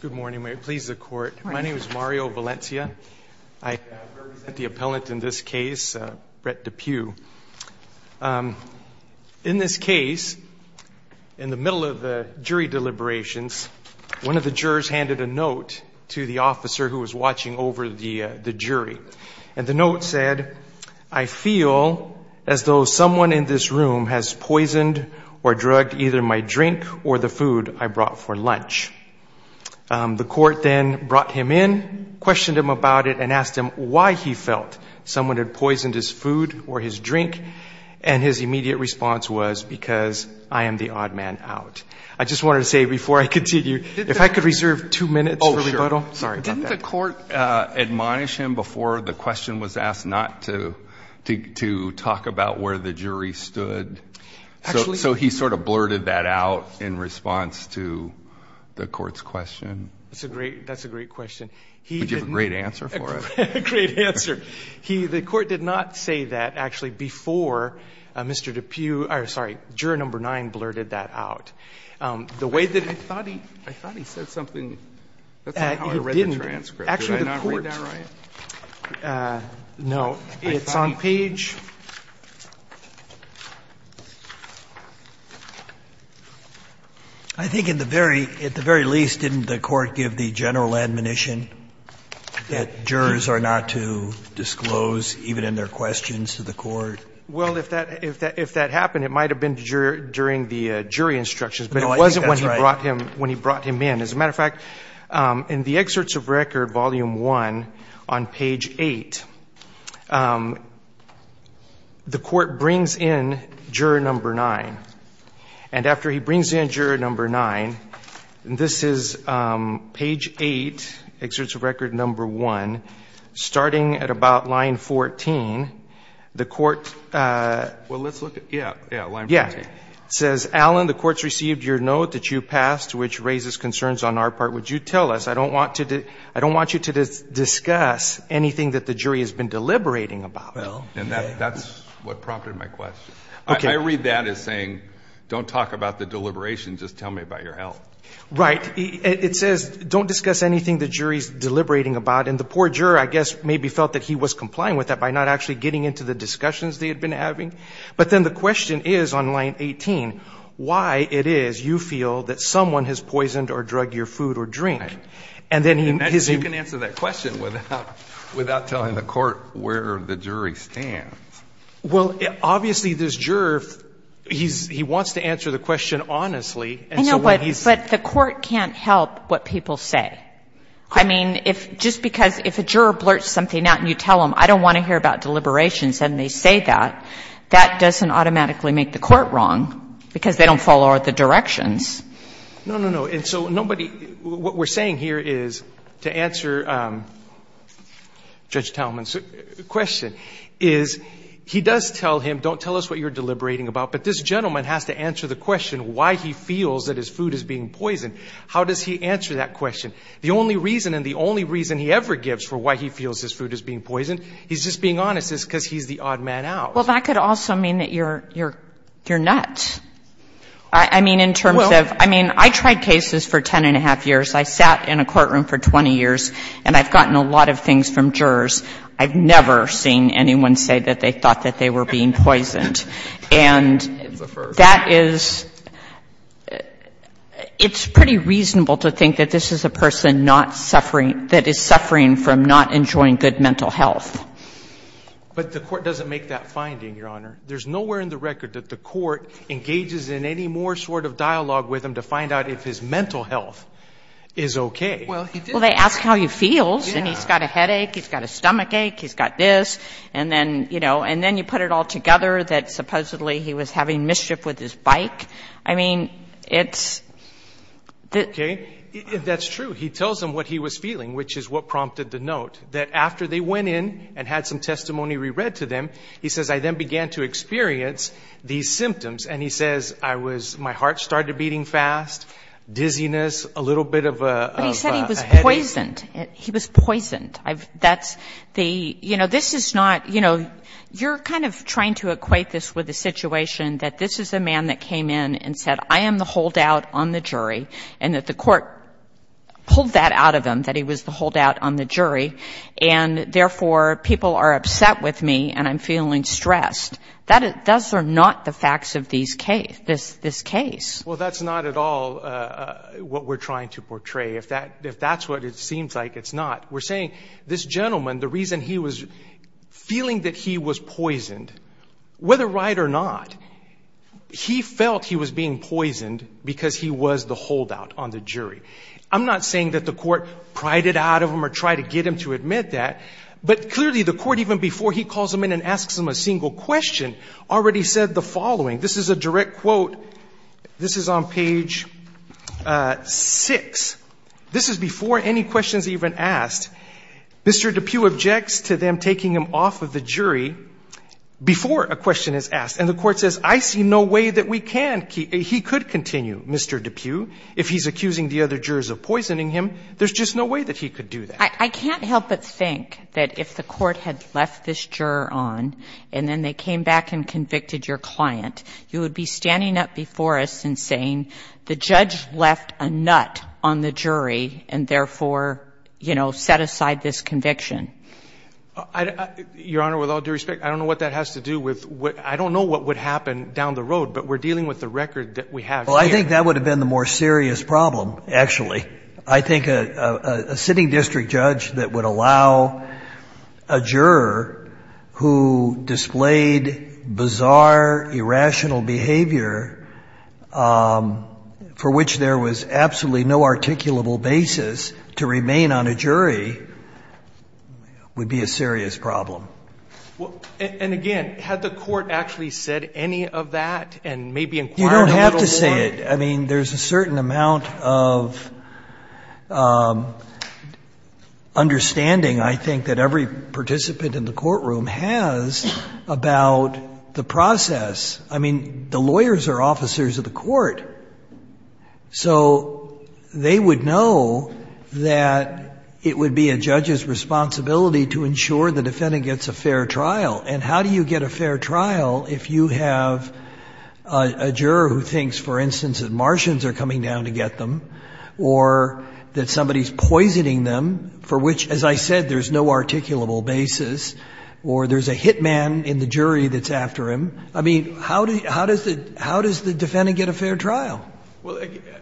Good morning, may it please the court. My name is Mario Valencia. I represent the appellant in this case, Brett Depue. In this case, in the middle of the jury deliberations, one of the jurors handed a note to the officer who was watching over the the jury and the note said, I feel as though someone in this room has The court then brought him in, questioned him about it and asked him why he felt someone had poisoned his food or his drink and his immediate response was because I am the odd man out. I just wanted to say before I continue, if I could reserve two minutes for rebuttal. Didn't the court admonish him before the question was asked not to to talk about where the jury stood? So he sort of That's a great, that's a great question. Would you have a great answer for it? Great answer. He, the court did not say that actually before Mr. Depue, I'm sorry, juror number nine blurted that out. The way that I thought he, I thought he said something, that's not how I read the transcript. Did I not read that right? Uh, no, it's on page. I think in the very, at the very least, didn't the court give the general admonition that jurors are not to disclose even in their questions to the court? Well, if that, if that, if that happened, it might have been during the jury instructions, but it wasn't when he brought him, when he brought him in. As a matter of fact, um, in the excerpts of record volume one on page eight, um, the court brings in juror number nine and after he brings in juror number nine, this is, um, page eight, excerpts of record number one, starting at about line 14, the court, uh, well, let's look at, yeah, yeah. Line 14. Yeah. It says, Alan, the court's concerns on our part. Would you tell us, I don't want to do, I don't want you to discuss anything that the jury has been deliberating about. And that's what prompted my question. I read that as saying, don't talk about the deliberation. Just tell me about your health. Right. It says, don't discuss anything the jury's deliberating about. And the poor juror, I guess, maybe felt that he was complying with that by not actually getting into the discussions they had been having. But then the question is on page nine, 18, why it is you feel that someone has poisoned or drugged your food or drink. And then he, his, You can answer that question without, without telling the court where the jury stands. Well, obviously this juror, he's, he wants to answer the question honestly. I know, but the court can't help what people say. I mean, if, just because if a juror blurts something out and you tell them, I don't want to hear about deliberations and they say that, that doesn't automatically make the court wrong because they don't follow the directions. No, no, no. And so nobody, what we're saying here is to answer Judge Talman's question is he does tell him, don't tell us what you're deliberating about, but this gentleman has to answer the question why he feels that his food is being poisoned. How does he answer that question? The only reason, and the only reason he ever gives for why he feels his food is being poisoned, he's just being honest is because he's the odd man out. Well, that could also mean that you're, you're, you're not. I mean, in terms of, I mean, I tried cases for 10 and a half years. I sat in a courtroom for 20 years and I've gotten a lot of things from jurors. I've never seen anyone say that they thought that they were being poisoned. And that is, it's pretty reasonable to think that this is a person not suffering, that is suffering from not enjoying good mental health. But the court doesn't make that finding, Your Honor. There's nowhere in the record that the court engages in any more sort of dialogue with him to find out if his mental health is okay. Well, they ask how he feels, and he's got a headache, he's got a stomach ache, he's got this, and then, you know, and then you put it all together that supposedly he was having mischief with his bike. I mean, it's the — Okay. That's true. He tells them what he was feeling, which is what prompted the note, that after they went in and had some testimony re-read to them, he says, I then began to experience these symptoms. And he says, I was, my heart started beating fast, dizziness, a little bit of a headache. But he said he was poisoned. He was poisoned. That's the, you know, this is not, you know, you're kind of trying to equate this with a situation that this is a man that is a jury, and that the court pulled that out of him, that he was the holdout on the jury, and therefore, people are upset with me, and I'm feeling stressed. That's not the facts of these cases, this case. Well, that's not at all what we're trying to portray. If that's what it seems like, it's not. We're saying this gentleman, the reason he was feeling that he was poisoned, whether right or not, he felt he was being poisoned because he was the holdout on the jury. I'm not saying that the court prided out of him or tried to get him to admit that, but clearly the court, even before he calls him in and asks him a single question, already said the following. This is a direct quote. This is on page 6. This is before any questions even asked. Mr. DePue objects to them taking him off of the jury before a question is asked, and the court says, I see no way that we can, he could continue, Mr. DePue, if he's accusing the other jurors of poisoning him. There's just no way that he could do that. I can't help but think that if the court had left this juror on, and then they came back and convicted your client, you would be standing up before us and saying, the judge left a juror on, you know, set aside this conviction. Your Honor, with all due respect, I don't know what that has to do with, I don't know what would happen down the road, but we're dealing with the record that we have here. Well, I think that would have been the more serious problem, actually. I think a sitting district judge that would allow a juror who displayed bizarre, irrational behavior for which there was absolutely no articulable basis to remain on a jury would be a serious problem. And again, had the court actually said any of that, and maybe inquired a little more? You don't have to say it. I mean, there's a certain amount of understanding, I think, that every participant in the courtroom has about the process. I mean, the lawyers are officers of the court. So they would know that it would be a judge's responsibility to ensure the defendant gets a fair trial. And how do you get a fair trial if you have a juror who thinks, for instance, that Martians are coming down to get them, or that somebody's poisoning them, for which, as I said, there's no articulable basis, or there's a hitman in the jury that's after him? I mean, how does the defendant get a fair trial? Well,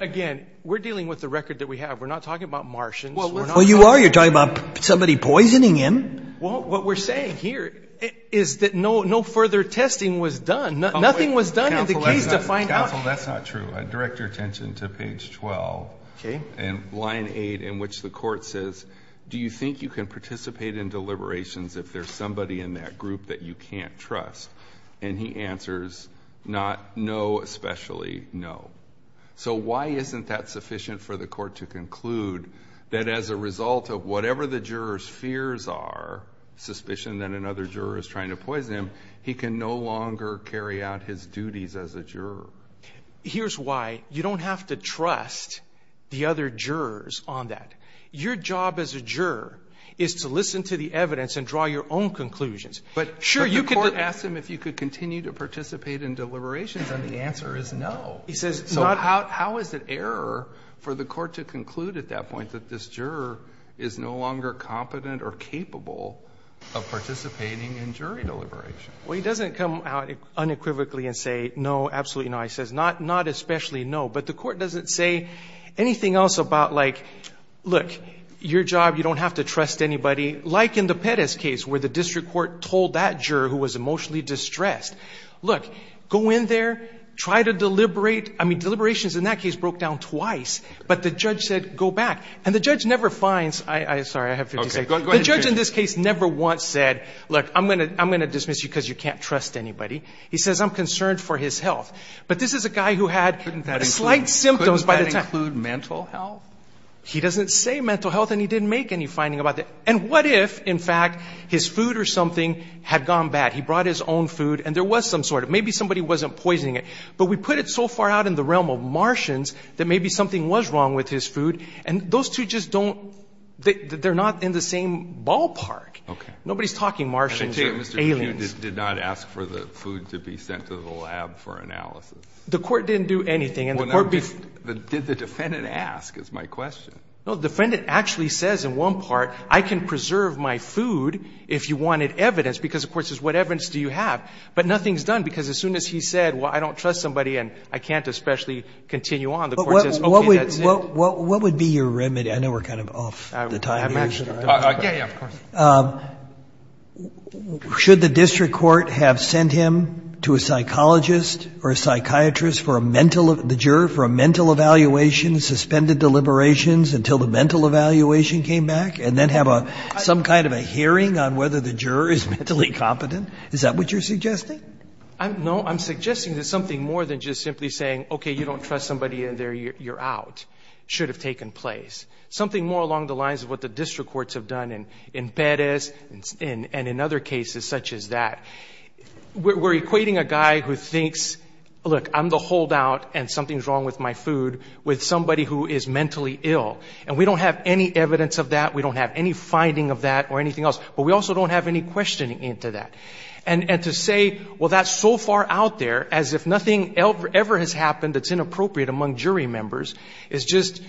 again, we're dealing with the record that we have. We're not talking about Martians. We're not talking about the jury. Well, you are. You're talking about somebody poisoning him. Well, what we're saying here is that no further testing was done. Nothing was done in the case to find out. Counsel, that's not true. Direct your attention to page 12. Okay. In line 8, in which the court says, do you think you can participate in deliberations if there's somebody in that group that you can't trust? And he answers, not no, especially no. So why isn't that sufficient for the court to conclude that as a result of whatever the juror's fears are, suspicion that another juror is trying to poison him, he can no longer carry out his duties as a juror? Here's why. You don't have to trust the other jurors on that. Your job as a juror is to draw your own conclusions. But the court asked him if you could continue to participate in deliberations, and the answer is no. He says not... How is it error for the court to conclude at that point that this juror is no longer competent or capable of participating in jury deliberations? Well, he doesn't come out unequivocally and say, no, absolutely no. He says, not especially no. But the court doesn't say anything else about like, look, your job, you don't have to trust anybody, like in the Perez case where the district court told that juror who was emotionally distressed, look, go in there, try to deliberate. I mean, deliberations in that case broke down twice. But the judge said, go back. And the judge never finds... Sorry, I have 50 seconds. The judge in this case never once said, look, I'm going to dismiss you because you can't trust anybody. He says, I'm concerned for his health. But this is a guy who had slight symptoms by the time... Couldn't that include mental health? He doesn't say mental health, and he didn't make any finding about that. And what if, in fact, his food or something had gone bad? He brought his own food, and there was some sort of... Maybe somebody wasn't poisoning it. But we put it so far out in the realm of Martians that maybe something was wrong with his food, and those two just don't... They're not in the same ballpark. Okay. Nobody's talking Martians, aliens. And I take it Mr. Cue did not ask for the food to be sent to the lab for analysis? The court didn't do anything, and the court... Did the defendant ask, is my question. No, the defendant actually says, in one part, I can preserve my food if you wanted evidence. Because the court says, what evidence do you have? But nothing's done, because as soon as he said, well, I don't trust somebody, and I can't especially continue on, the court says, okay, that's it. What would be your remedy? I know we're kind of off the time here. I'm actually... Yeah, yeah, of course. Should the district court have sent him to a psychologist or a psychiatrist for a mental... The juror for a mental evaluation, suspended deliberations until the mental evaluation came back, and then have some kind of a hearing on whether the juror is mentally competent? Is that what you're suggesting? No, I'm suggesting that something more than just simply saying, okay, you don't trust somebody in there, you're out, should have taken place. Something more along the lines of what the district courts have done in Bettez, and in other cases such as that. We're equating a guy who thinks, look, I'm the holdout and something's wrong with my food with somebody who is mentally ill. And we don't have any evidence of that, we don't have any finding of that or anything else, but we also don't have any questioning into that. And to say, well, that's so far out there, as if nothing ever has happened that's inappropriate among jury members, is just,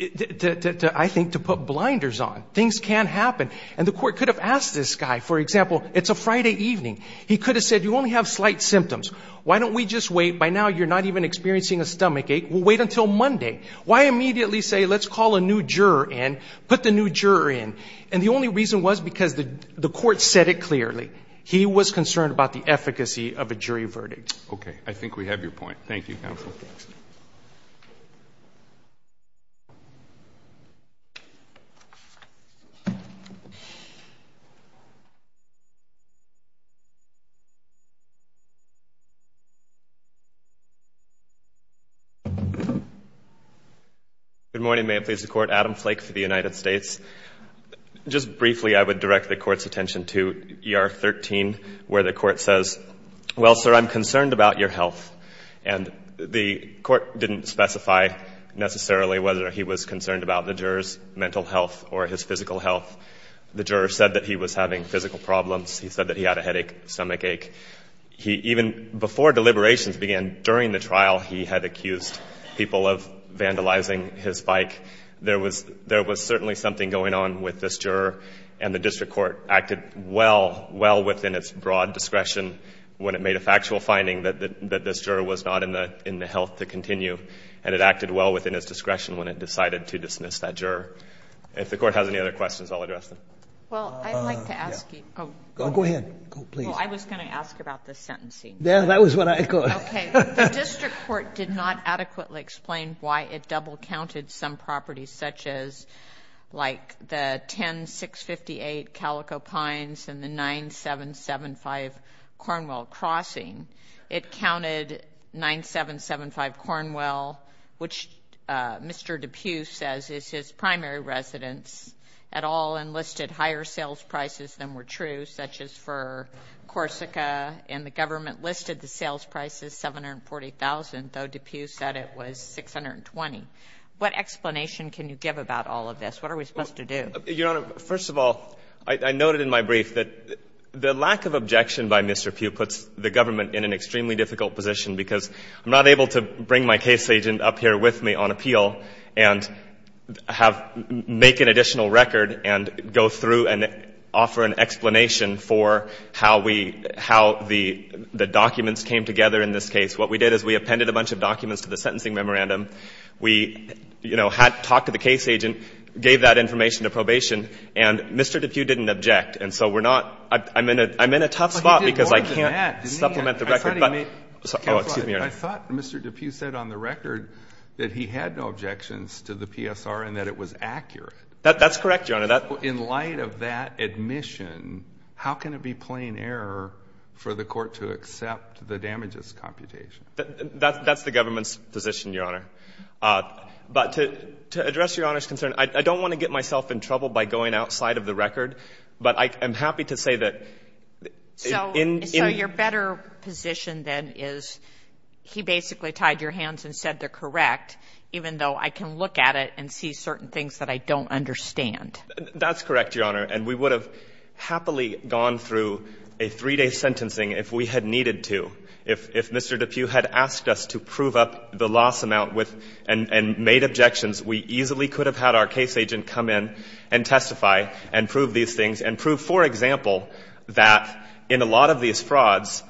I think, to put blinders on. Things can happen. And the court could have asked this guy, for example, it's a Friday evening. He could have said, you only have slight symptoms. Why don't we just wait? By now, you're not even experiencing a stomachache, we'll wait until Monday. Why immediately say, let's call a new juror in, put the new juror in? And the only reason was because the court said it clearly. He was concerned about the efficacy of a jury verdict. Okay, I think we have your point. Thank you, counsel. Good morning, may it please the court, Adam Flake for the United States. Just briefly, I would direct the court's attention to ER 13, where the court says, well, sir, I'm concerned about your health. And the court didn't specify, necessarily, whether he was concerned about the juror's The juror said that he was having physical problems. He said that he had a headache, stomachache. Even before deliberations began, during the trial, he had accused people of vandalizing his bike. There was certainly something going on with this juror. And the district court acted well, well within its broad discretion when it made a factual finding that this juror was not in the health to continue. And it acted well within its discretion when it decided to dismiss that juror. If the court has any other questions, I'll address them. Well, I'd like to ask you. Go ahead. Please. I was going to ask about the sentencing. Yeah, that was what I thought. Okay. The district court did not adequately explain why it double counted some properties, such as like the 10658 Calico Pines and the 9775 Cornwell Crossing. It counted 9775 Cornwell, which Mr. DePue says is his primary residence, et al., and listed higher sales prices than were true, such as for Corsica, and the government listed the sales prices $740,000, though DePue said it was $620,000. What explanation can you give about all of this? What are we supposed to do? Your Honor, first of all, I noted in my brief that the lack of objection by Mr. DePue puts the government in an extremely difficult position, because I'm not able to bring my case agent up here with me on appeal and have — make an additional record and go through and offer an explanation for how we — how the documents came together in this case. What we did is we appended a bunch of documents to the sentencing memorandum. We, you know, had — talked to the case agent, gave that information to probation, and Mr. DePue didn't object. And so we're not — I'm in a — I'm in a tough spot because I can't — I thought he made — Oh, excuse me, Your Honor. I thought Mr. DePue said on the record that he had no objections to the PSR and that it was accurate. That's correct, Your Honor. That — In light of that admission, how can it be plain error for the court to accept the damages computation? That's the government's position, Your Honor. But to address Your Honor's concern, I don't want to get myself in trouble by going outside of the record, but I am happy to say that — So — In — So your better position, then, is he basically tied your hands and said they're correct, even though I can look at it and see certain things that I don't understand. That's correct, Your Honor. And we would have happily gone through a three-day sentencing if we had needed to. If Mr. DePue had asked us to prove up the loss amount with — and made objections, we easily could have had our case agent come in and testify and prove these things and that in a lot of these frauds,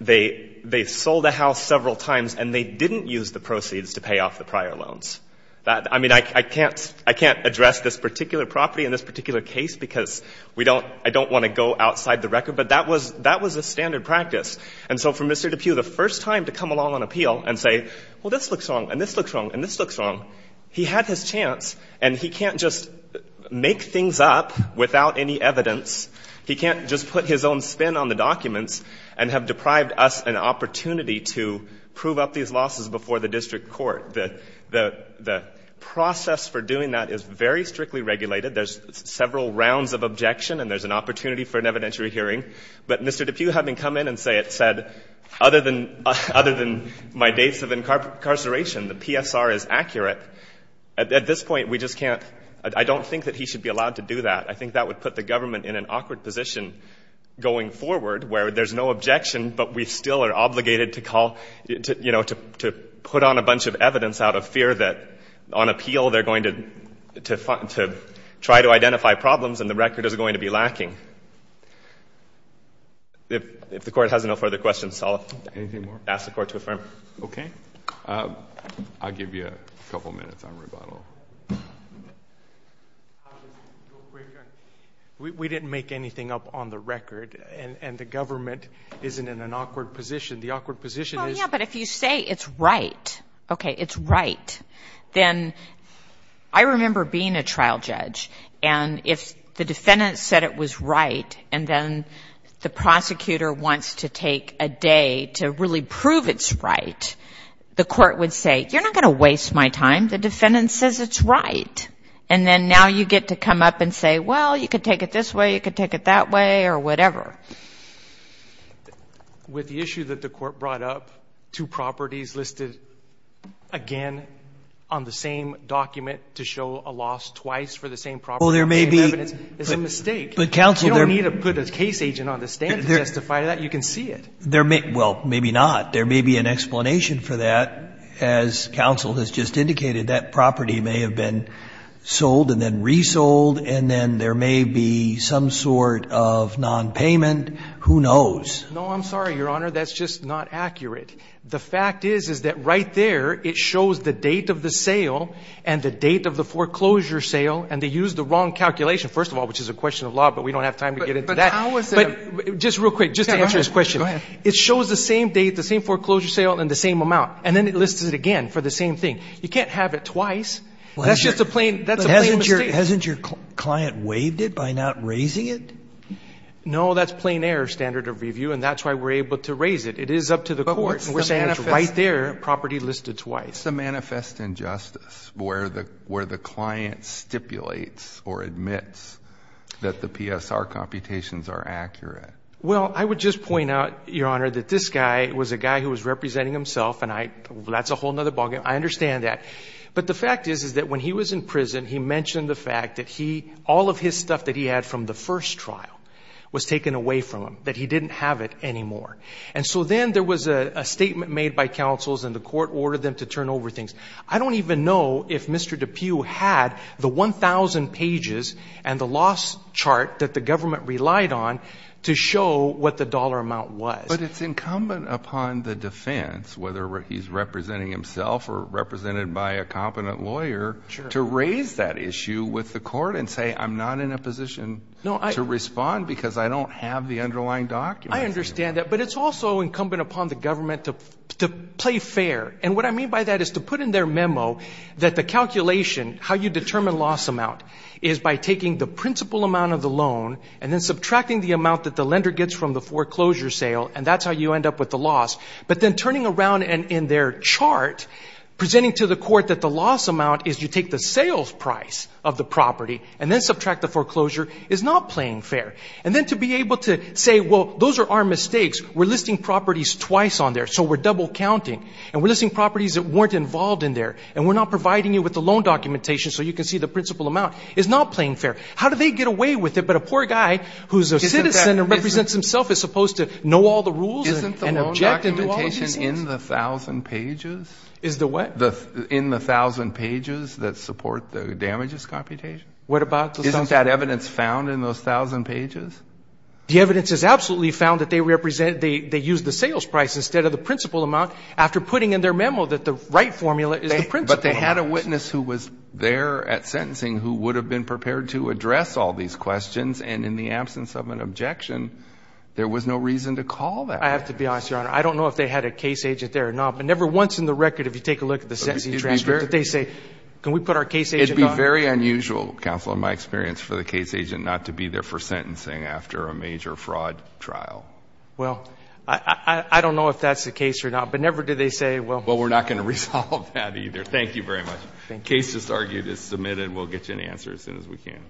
they sold a house several times and they didn't use the proceeds to pay off the prior loans. I mean, I can't address this particular property in this particular case because we don't — I don't want to go outside the record. But that was a standard practice. And so for Mr. DePue, the first time to come along on appeal and say, well, this looks wrong and this looks wrong and this looks wrong, he had his chance, and he can't just make things up without any evidence. He can't just put his own spin on the documents and have deprived us an opportunity to prove up these losses before the district court. The process for doing that is very strictly regulated. There's several rounds of objection and there's an opportunity for an evidentiary hearing. But Mr. DePue having come in and said, other than my dates of incarceration, the PSR is accurate, at this point, we just can't — I don't think that he should be allowed to do that. I think that would put the government in an awkward position going forward where there's no objection, but we still are obligated to call — you know, to put on a bunch of evidence out of fear that on appeal they're going to try to identify problems and the record is going to be lacking. If the Court has no further questions, I'll ask the Court to affirm. Okay. I'll give you a couple minutes on rebuttal. We didn't make anything up on the record and the government isn't in an awkward position. The awkward position is — Well, yeah, but if you say it's right, okay, it's right, then — I remember being a trial judge and if the defendant said it was right and then the prosecutor wants to take a day to really prove it's right, the Court would say, you're not going to waste my time. The defendant says it's right. And then now you get to come up and say, well, you could take it this way, you could take it that way, or whatever. With the issue that the Court brought up, two properties listed again on the same document to show a loss twice for the same property — Well, there may be —— it's a mistake. But counsel — You don't need to put a case agent on the stand to justify that. You can see it. There may — well, maybe not. There may be an explanation for that. As counsel has just indicated, that property may have been sold and then resold, and then there may be some sort of nonpayment. Who knows? No, I'm sorry, Your Honor. That's just not accurate. The fact is, is that right there, it shows the date of the sale and the date of the foreclosure sale and they used the wrong calculation, first of all, which is a question of law, but we don't have time to get into that. But how is it — But just real quick, just to answer this question. Go ahead. It shows the same date, the same foreclosure sale, and the same amount, and then it lists it again for the same thing. You can't have it twice. That's just a plain — that's a plain mistake. But hasn't your client waived it by not raising it? No, that's plain error standard of review, and that's why we're able to raise it. It is up to the court. But what's the manifest — And we're saying it's right there, property listed twice. What's the manifest injustice where the client stipulates or admits that the PSR computations are accurate? Well, I would just point out, Your Honor, that this guy was a guy who was representing himself and I — that's a whole other ballgame. I understand that. But the fact is, is that when he was in prison, he mentioned the fact that he — all of his stuff that he had from the first trial was taken away from him, that he didn't have it anymore. And so then there was a statement made by counsels and the court ordered them to turn over things. I don't even know if Mr. DePue had the 1,000 pages and the loss chart that the government relied on to show what the dollar amount was. But it's incumbent upon the defense, whether he's representing himself or represented by a competent lawyer, to raise that issue with the court and say, I'm not in a position to respond because I don't have the underlying documents. I understand that. But it's also incumbent upon the government to play fair. And what I mean by that is to put in their memo that the calculation, how you determine is by taking the principal amount of the loan and then subtracting the amount that the lender gets from the foreclosure sale, and that's how you end up with the loss. But then turning around and in their chart, presenting to the court that the loss amount is you take the sales price of the property and then subtract the foreclosure, is not playing fair. And then to be able to say, well, those are our mistakes. We're listing properties twice on there, so we're double counting. And we're listing properties that weren't involved in there. And we're not providing you with the loan documentation so you can see the principal amount is not playing fair. How do they get away with it? But a poor guy who's a citizen and represents himself is supposed to know all the rules and object and do all the business. Isn't the loan documentation in the 1,000 pages? Is the what? In the 1,000 pages that support the damages computation? What about the 1,000 pages? Isn't that evidence found in those 1,000 pages? The evidence is absolutely found that they represent, they use the sales price instead of the principal amount after putting in their memo that the right formula is the principal amount. But they had a witness who was there at sentencing who would have been prepared to address all these questions. And in the absence of an objection, there was no reason to call that witness. I have to be honest, Your Honor. I don't know if they had a case agent there or not, but never once in the record, if you take a look at the sentencing transcript, did they say, can we put our case agent on? It would be very unusual, Counselor, in my experience, for the case agent not to be there for sentencing after a major fraud trial. Well, I don't know if that's the case or not. But never did they say, well. Well, we're not going to resolve that either. Thank you very much. Thank you. Case just argued is submitted. We'll get you an answer as soon as we can.